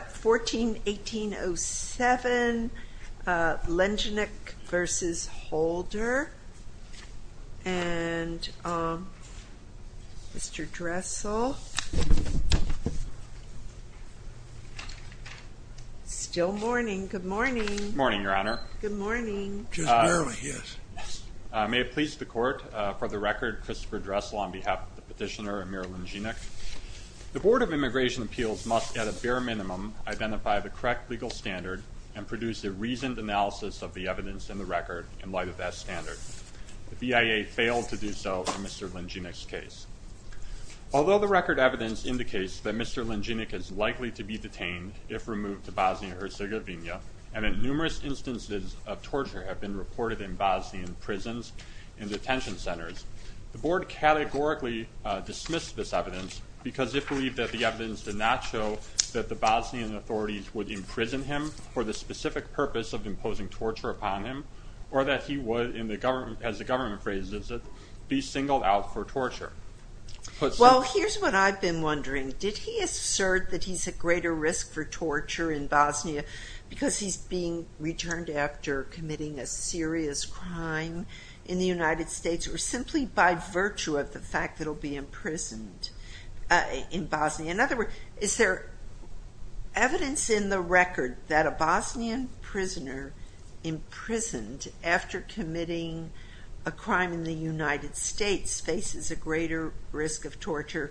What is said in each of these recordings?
14-1807, Lenjinac v. Holder, and Mr. Dressel. Still morning. Good morning. Morning, Your Honor. Good morning. Just barely, yes. May it please the Court, for the record, Christopher Dressel on behalf of the petitioner and Mayor Lenjinac. The correct legal standard and produced a reasoned analysis of the evidence in the record in light of that standard. The BIA failed to do so in Mr. Lenjinac's case. Although the record evidence indicates that Mr. Lenjinac is likely to be detained if removed to Bosnia-Herzegovina, and that numerous instances of torture have been reported in Bosnian prisons and detention centers, the Board categorically dismissed this evidence because it believed that the Bosnian authorities would imprison him for the specific purpose of imposing torture upon him, or that he would, as the government phrases it, be singled out for torture. Well, here's what I've been wondering. Did he assert that he's at greater risk for torture in Bosnia because he's being returned after committing a serious crime in the United States, or simply by virtue of the fact that he'll be imprisoned in Bosnia? In other words, is there evidence in the record that a Bosnian prisoner imprisoned after committing a crime in the United States faces a greater risk of torture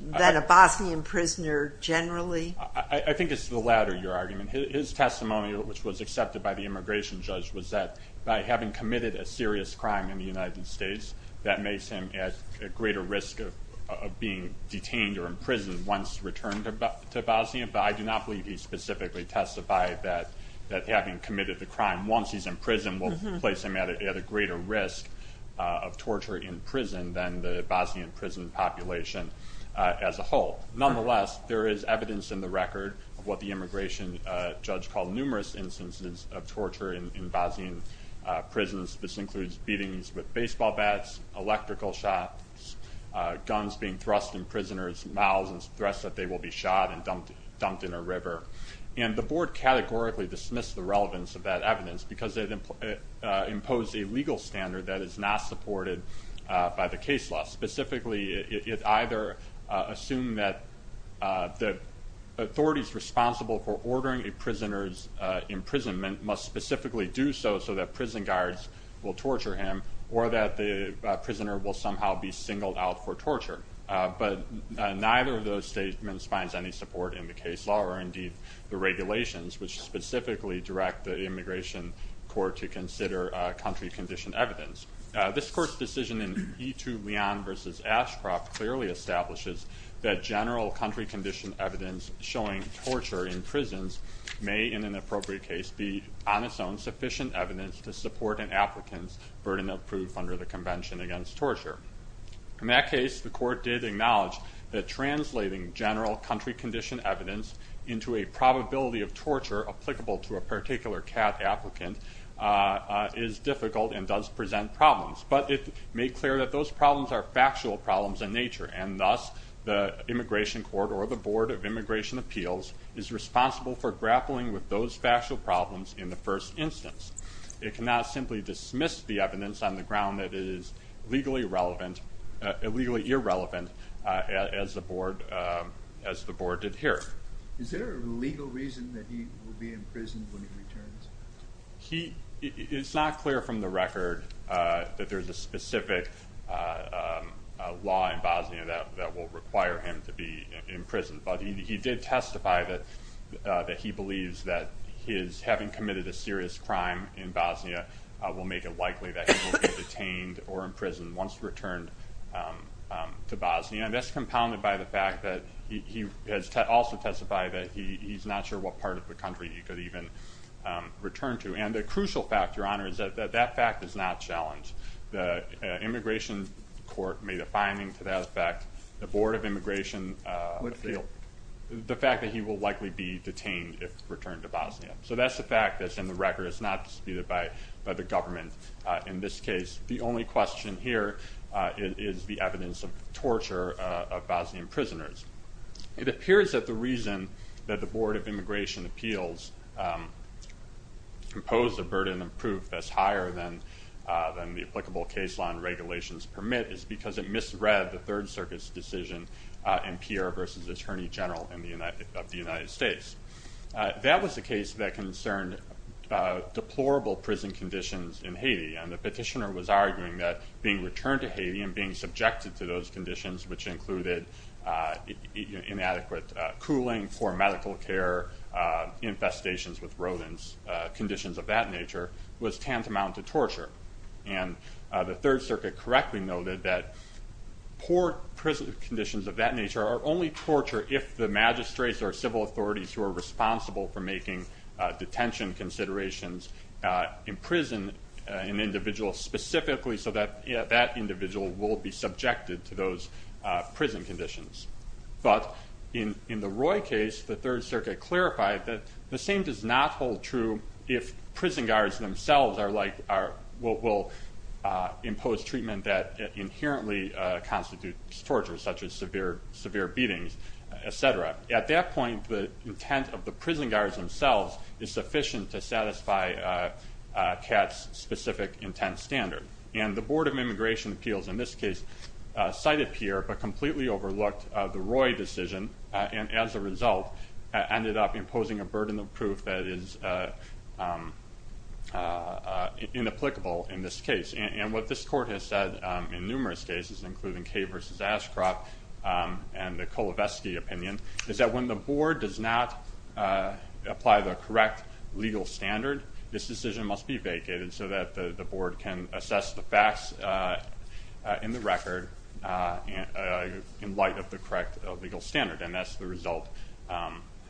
than a Bosnian prisoner generally? I think it's the latter, your argument. His testimony, which was accepted by the immigration judge, was that by having committed a serious crime in the United States, that makes him at a greater risk of being detained or imprisoned once returned to Bosnia, but I do not believe he specifically testified that having committed the crime once he's in prison will place him at a greater risk of torture in prison than the Bosnian prison population as a whole. Nonetheless, there is evidence in the record of what the immigration judge called numerous instances of torture in Bosnian prisons. This includes beatings with baseball bats, electrical shocks, guns being thrust in prisoners' mouths, and threats that they will be shot and dumped in a river. And the board categorically dismissed the relevance of that evidence because it imposed a legal standard that is not supported by the case law. Specifically, it either assumed that the authorities responsible for ordering a prison guards will torture him, or that the prisoner will somehow be singled out for torture. But neither of those statements finds any support in the case law, or indeed the regulations, which specifically direct the immigration court to consider country-conditioned evidence. This court's decision in E2 Leon v. Ashcroft clearly establishes that general country-conditioned evidence showing torture in prisons may, in an appropriate case, be on its own sufficient evidence to support an applicant's burden of proof under the Convention Against Torture. In that case, the court did acknowledge that translating general country-conditioned evidence into a probability of torture applicable to a particular CAT applicant is difficult and does present problems. But it made clear that those problems are factual problems in nature, and thus the immigration court, or the Board of Immigration Appeals, is responsible for the evidence. It cannot simply dismiss the evidence on the ground that it is legally irrelevant, as the Board did here. Is there a legal reason that he will be in prison when he returns? It's not clear from the record that there's a specific law in Bosnia that will require him to be in prison, but he did testify that he believes that having committed a serious crime in Bosnia will make it likely that he will be detained or imprisoned once returned to Bosnia. And that's compounded by the fact that he has also testified that he's not sure what part of the country he could even return to. And the crucial fact, Your Honor, is that that fact is not challenged. The immigration court made a finding to that effect. The Board of Immigration Appeals. The fact that he will likely be detained if returned to Bosnia. So that's the fact that's in the record. It's not disputed by the government in this case. The only question here is the evidence of torture of Bosnian prisoners. It appears that the reason that the Board of Immigration Appeals imposed a burden of proof that's higher than the applicable case law and regulations permit is because it misread the Third Circuit's decision in Pierre v. Attorney General of the United States. That was the case that concerned deplorable prison conditions in Haiti. And the petitioner was arguing that being returned to Haiti and being subjected to those conditions, which included inadequate cooling for medical care, infestations with rodents, conditions of that nature, was tantamount to torture. And the Third Circuit correctly noted that poor prison conditions of that nature are only torture if the magistrates or civil authorities who are responsible for making detention considerations imprison an individual specifically so that that individual will be subjected to those prison conditions. But in the Roy case, the Third Circuit clarified that the same does not hold true if prison guards themselves are like or will impose treatment that inherently constitutes torture, such as severe beatings, etc. At that point the intent of the prison guards themselves is sufficient to satisfy Katz's specific intent standard. And the Board of Immigration Appeals in this case cited Pierre but completely overlooked the Roy decision and as a result ended up imposing a burden of proof that is inapplicable in this case. And what this court has said in numerous cases, including Kaye v. Ashcroft and the Kolovetsky opinion, is that when the board does not apply the correct legal standard, this decision must be vacated so that the board can assess the facts in the record in light of the correct legal standard. And that's the result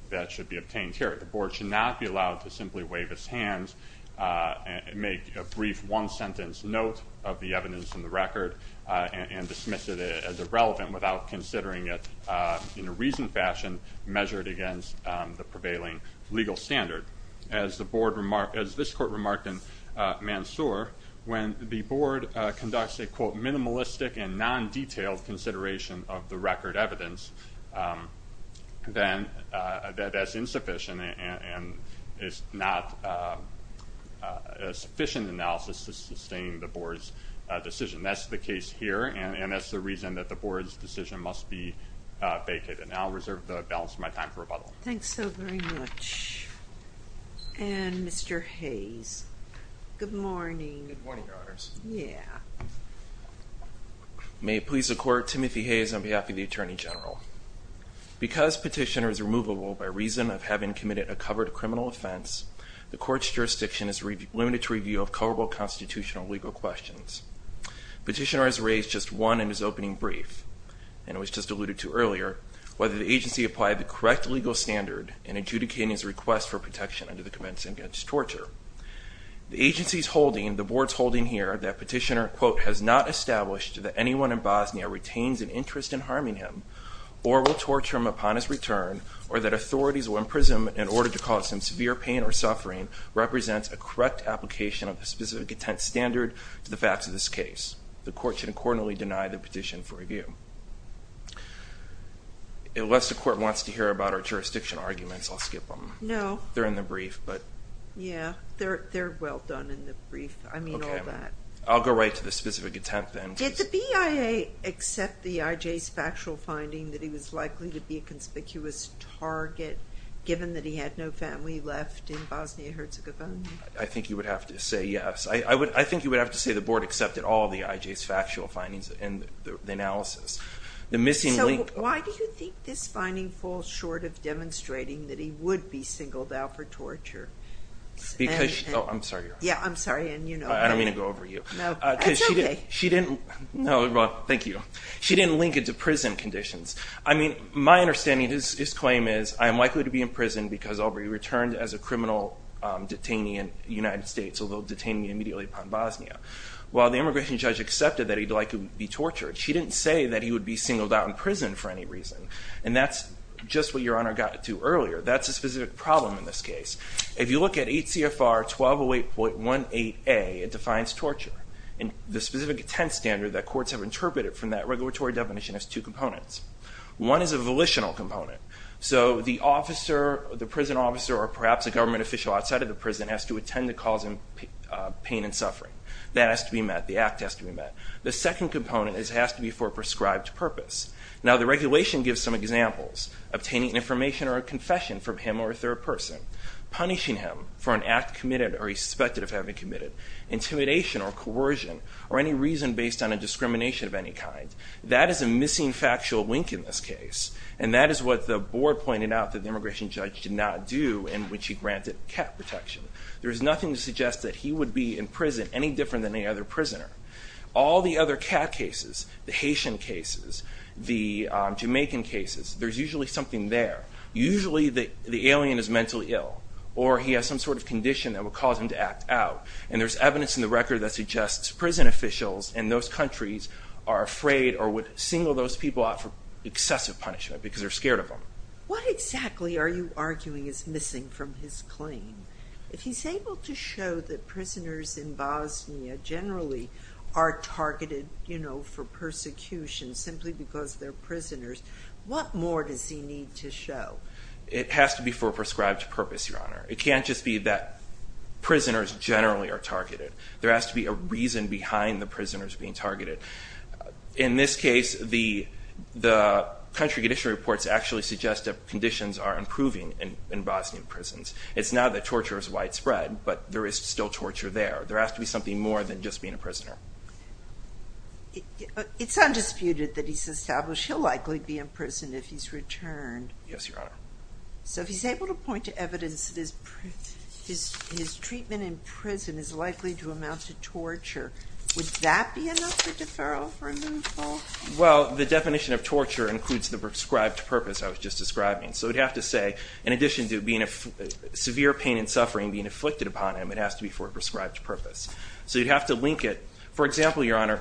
that should be obtained here. The board should not be allowed to simply wave its hands and make a brief one-sentence note of the evidence in the record and dismiss it as irrelevant without considering it in a reasoned fashion measured against the prevailing legal standard. As the board remarked, as this court remarked in Mansour, when the board conducts a quote minimalistic and non-detailed consideration of the record evidence, then that's insufficient and it's not a sufficient analysis to sustain the board's decision. That's the case here and that's the reason that the board's decision must be vacated. And I'll reserve the balance of my time for Mr. Hayes. Good morning. May it please the court, Timothy Hayes on behalf of the Attorney General. Because petitioner is removable by reason of having committed a covered criminal offense, the court's jurisdiction is limited to review of coverable constitutional legal questions. Petitioner has raised just one in his opening brief, and it was just alluded to earlier, whether the agency applied the correct legal standard in adjudicating his request for protection under the Convention Against Torture. The agency's holding, the board's holding here, that petitioner quote has not established that anyone in Bosnia retains an interest in harming him or will torture him upon his return or that authorities will imprison him in order to cause him severe pain or suffering represents a correct application of the specific intent standard to the facts of this case. The court should accordingly deny the petition for review. Unless the court wants to hear about our jurisdiction arguments, I'll skip them. No. They're in the brief, but. Yeah, they're well done in the brief. I mean all that. I'll go right to the specific attempt then. Did the BIA accept the IJ's factual finding that he was likely to be a conspicuous target given that he had no family left in Bosnia-Herzegovina? I think you would have to say yes. I think you would have to say the board accepted all the IJ's factual findings and the analysis. So why do you think this finding falls short of demonstrating that he would be singled out for torture? Because, oh I'm sorry. Yeah I'm sorry and you know. I don't mean to go over you. No, it's okay. She didn't, no thank you. She didn't link it to prison conditions. I mean my understanding of his claim is I am likely to be in prison because I'll be returned as a criminal detainee in the United States although detaining me immediately upon Bosnia. While the immigration judge accepted that he'd like to be tortured, she didn't say that he would be singled out in prison for any reason. And that's just what your honor got to do earlier. That's a specific problem in this case. If you look at 8 CFR 1208.18A, it defines torture. And the specific attempt standard that courts have interpreted from that regulatory definition has two components. One is a volitional component. So the officer, the prison officer, or perhaps a government official outside of the prison has to attend to cause him pain and suffering. That has to be met. The act has to be met. The second component is it has to be for a prescribed purpose. Now the regulation gives some examples. Obtaining information or a confession from him or a third person. Punishing him for an act committed or suspected of having committed. Intimidation or coercion or any reason based on a discrimination of any kind. That is a missing factual link in this case. And that is what the board pointed out that the immigration judge did not do in which he granted cat protection. There is nothing to suggest that he would be in there. All the other cat cases, the Haitian cases, the Jamaican cases, there's usually something there. Usually the alien is mentally ill or he has some sort of condition that would cause him to act out. And there's evidence in the record that suggests prison officials in those countries are afraid or would single those people out for excessive punishment because they're scared of them. What exactly are you arguing is missing from his claim? If he's able to show that prisoners in Bosnia generally are targeted, you know, for persecution simply because they're prisoners, what more does he need to show? It has to be for a prescribed purpose, Your Honor. It can't just be that prisoners generally are targeted. There has to be a reason behind the prisoners being targeted. In this case, the country condition reports actually suggest that conditions are improving in Bosnian prisons. It's not that torture is widespread, but there is still torture there. There has to be something more than just being a prisoner. It's undisputed that he's established he'll likely be in prison if he's returned. Yes, Your Honor. So if he's able to point to evidence that his treatment in prison is likely to amount to torture, would that be enough for deferral for removal? Well, the definition of torture includes the prescribed purpose I was just describing. So we'd have to say, in addition to being a severe pain and it has to be for a prescribed purpose. So you'd have to link it. For example, Your Honor,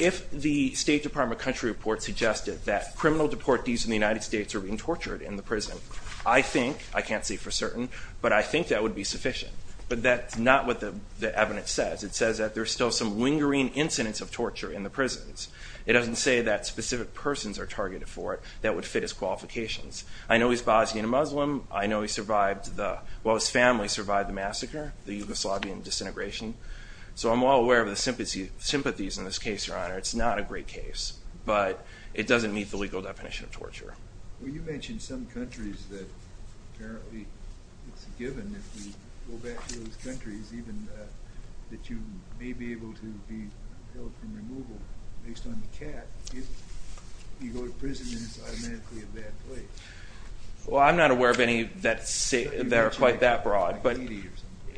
if the State Department country report suggested that criminal deportees in the United States are being tortured in the prison, I think, I can't say for certain, but I think that would be sufficient. But that's not what the evidence says. It says that there's still some lingering incidents of torture in the prisons. It doesn't say that specific persons are targeted for it that would fit his qualifications. I know he's Bosnian Muslim. I know he survived the, well, his family survived the massacre, the Yugoslavian disintegration. So I'm well aware of the sympathies in this case, Your Honor. It's not a great case, but it doesn't meet the legal definition of torture. Well, you mentioned some countries that apparently it's a given, if we go back to those countries, even, that you may be able to be held for removal based on the cap. If you go to prison, then it's automatically a bad place. Well, I'm not aware of any that are quite that broad. But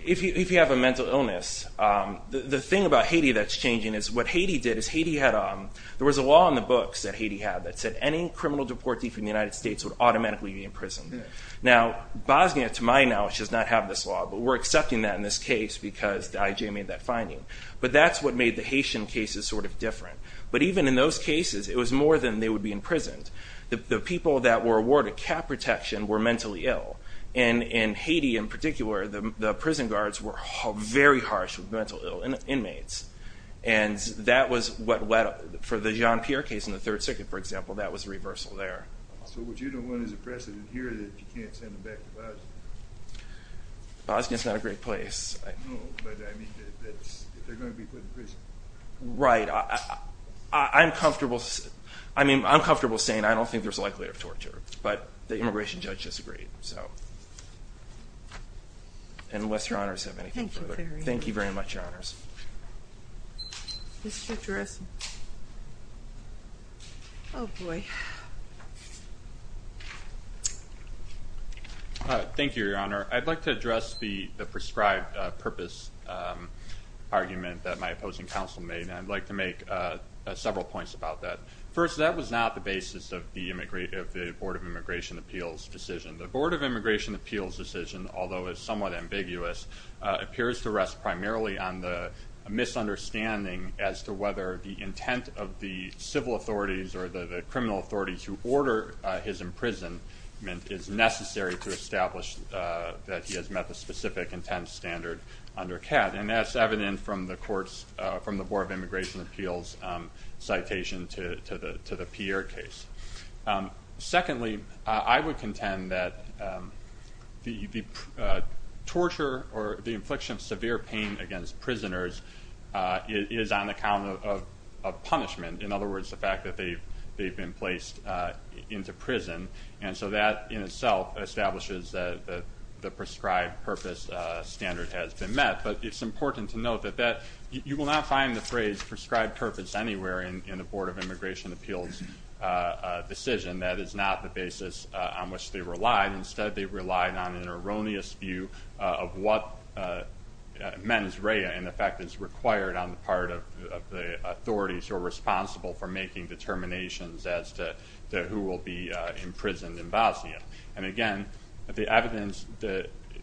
if you have a mental illness, the thing about Haiti that's changing is what Haiti did is Haiti had... There was a law in the books that Haiti had that said any criminal deportee from the United States would automatically be imprisoned. Now, Bosnia, to my knowledge, does not have this law, but we're accepting that in this case because the IJ made that finding. But that's what made the Haitian cases sort of different. But even in those cases, it was more than they would be imprisoned. The people that were awarded cap protection were mentally ill. And in Haiti, in particular, the prison guards were very harsh with mental ill inmates. And that was what... For the Jean Pierre case in the Third Circuit, for example, that was a reversal there. So would you know when there's a precedent here that you can't send them back to Bosnia? Bosnia's not a great place. No, but I mean, that's... They're gonna be put in prison. Right. I'm comfortable... I mean, I'm comfortable saying I don't think there's a precedent, but it's just great, so. Unless Your Honors have anything further. Thank you very much. Thank you very much, Your Honors. Mr. Dressen. Oh, boy. Thank you, Your Honor. I'd like to address the prescribed purpose argument that my opposing counsel made, and I'd like to make several points about that. First, that was not the basis of the Board of Immigration Appeals decision. The Board of Immigration Appeals decision, although it's somewhat ambiguous, appears to rest primarily on the misunderstanding as to whether the intent of the civil authorities or the criminal authorities who order his imprisonment is necessary to establish that he has met the specific intent standard under CAD. And that's evident from the court's... From the Board of Immigration Appeals citation to the Pierre case. Secondly, I would contend that the torture or the infliction of severe pain against prisoners is on account of punishment. In other words, the fact that they've been placed into prison. And so that, in itself, establishes that the prescribed purpose standard has been met. But it's important to note that that... You will not find the phrase Board of Immigration Appeals decision. That is not the basis on which they relied. Instead, they relied on an erroneous view of what mens rea, in effect, is required on the part of the authorities who are responsible for making determinations as to who will be imprisoned in Bosnia. And again, the evidence,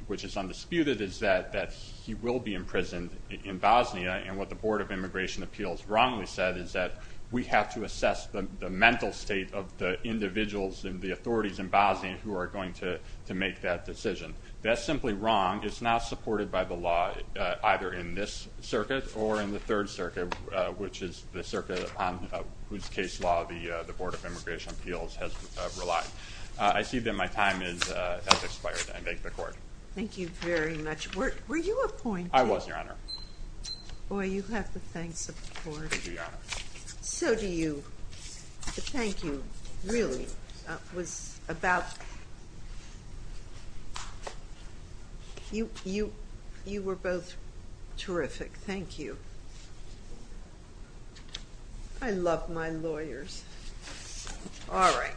which is undisputed, is that he will be imprisoned in Bosnia. And what the Board of Immigration Appeals wrongly said is that we have to assess the mental state of the individuals and the authorities in Bosnia who are going to make that decision. That's simply wrong. It's not supported by the law, either in this circuit or in the Third Circuit, which is the circuit on whose case law the Board of Immigration Appeals has relied. I see that my time has expired. I thank the court. Thank you very much. Were you appointed? I was, of course. So do you. But thank you, really. It was about... You were both terrific. Thank you. I love my lawyers. Alright.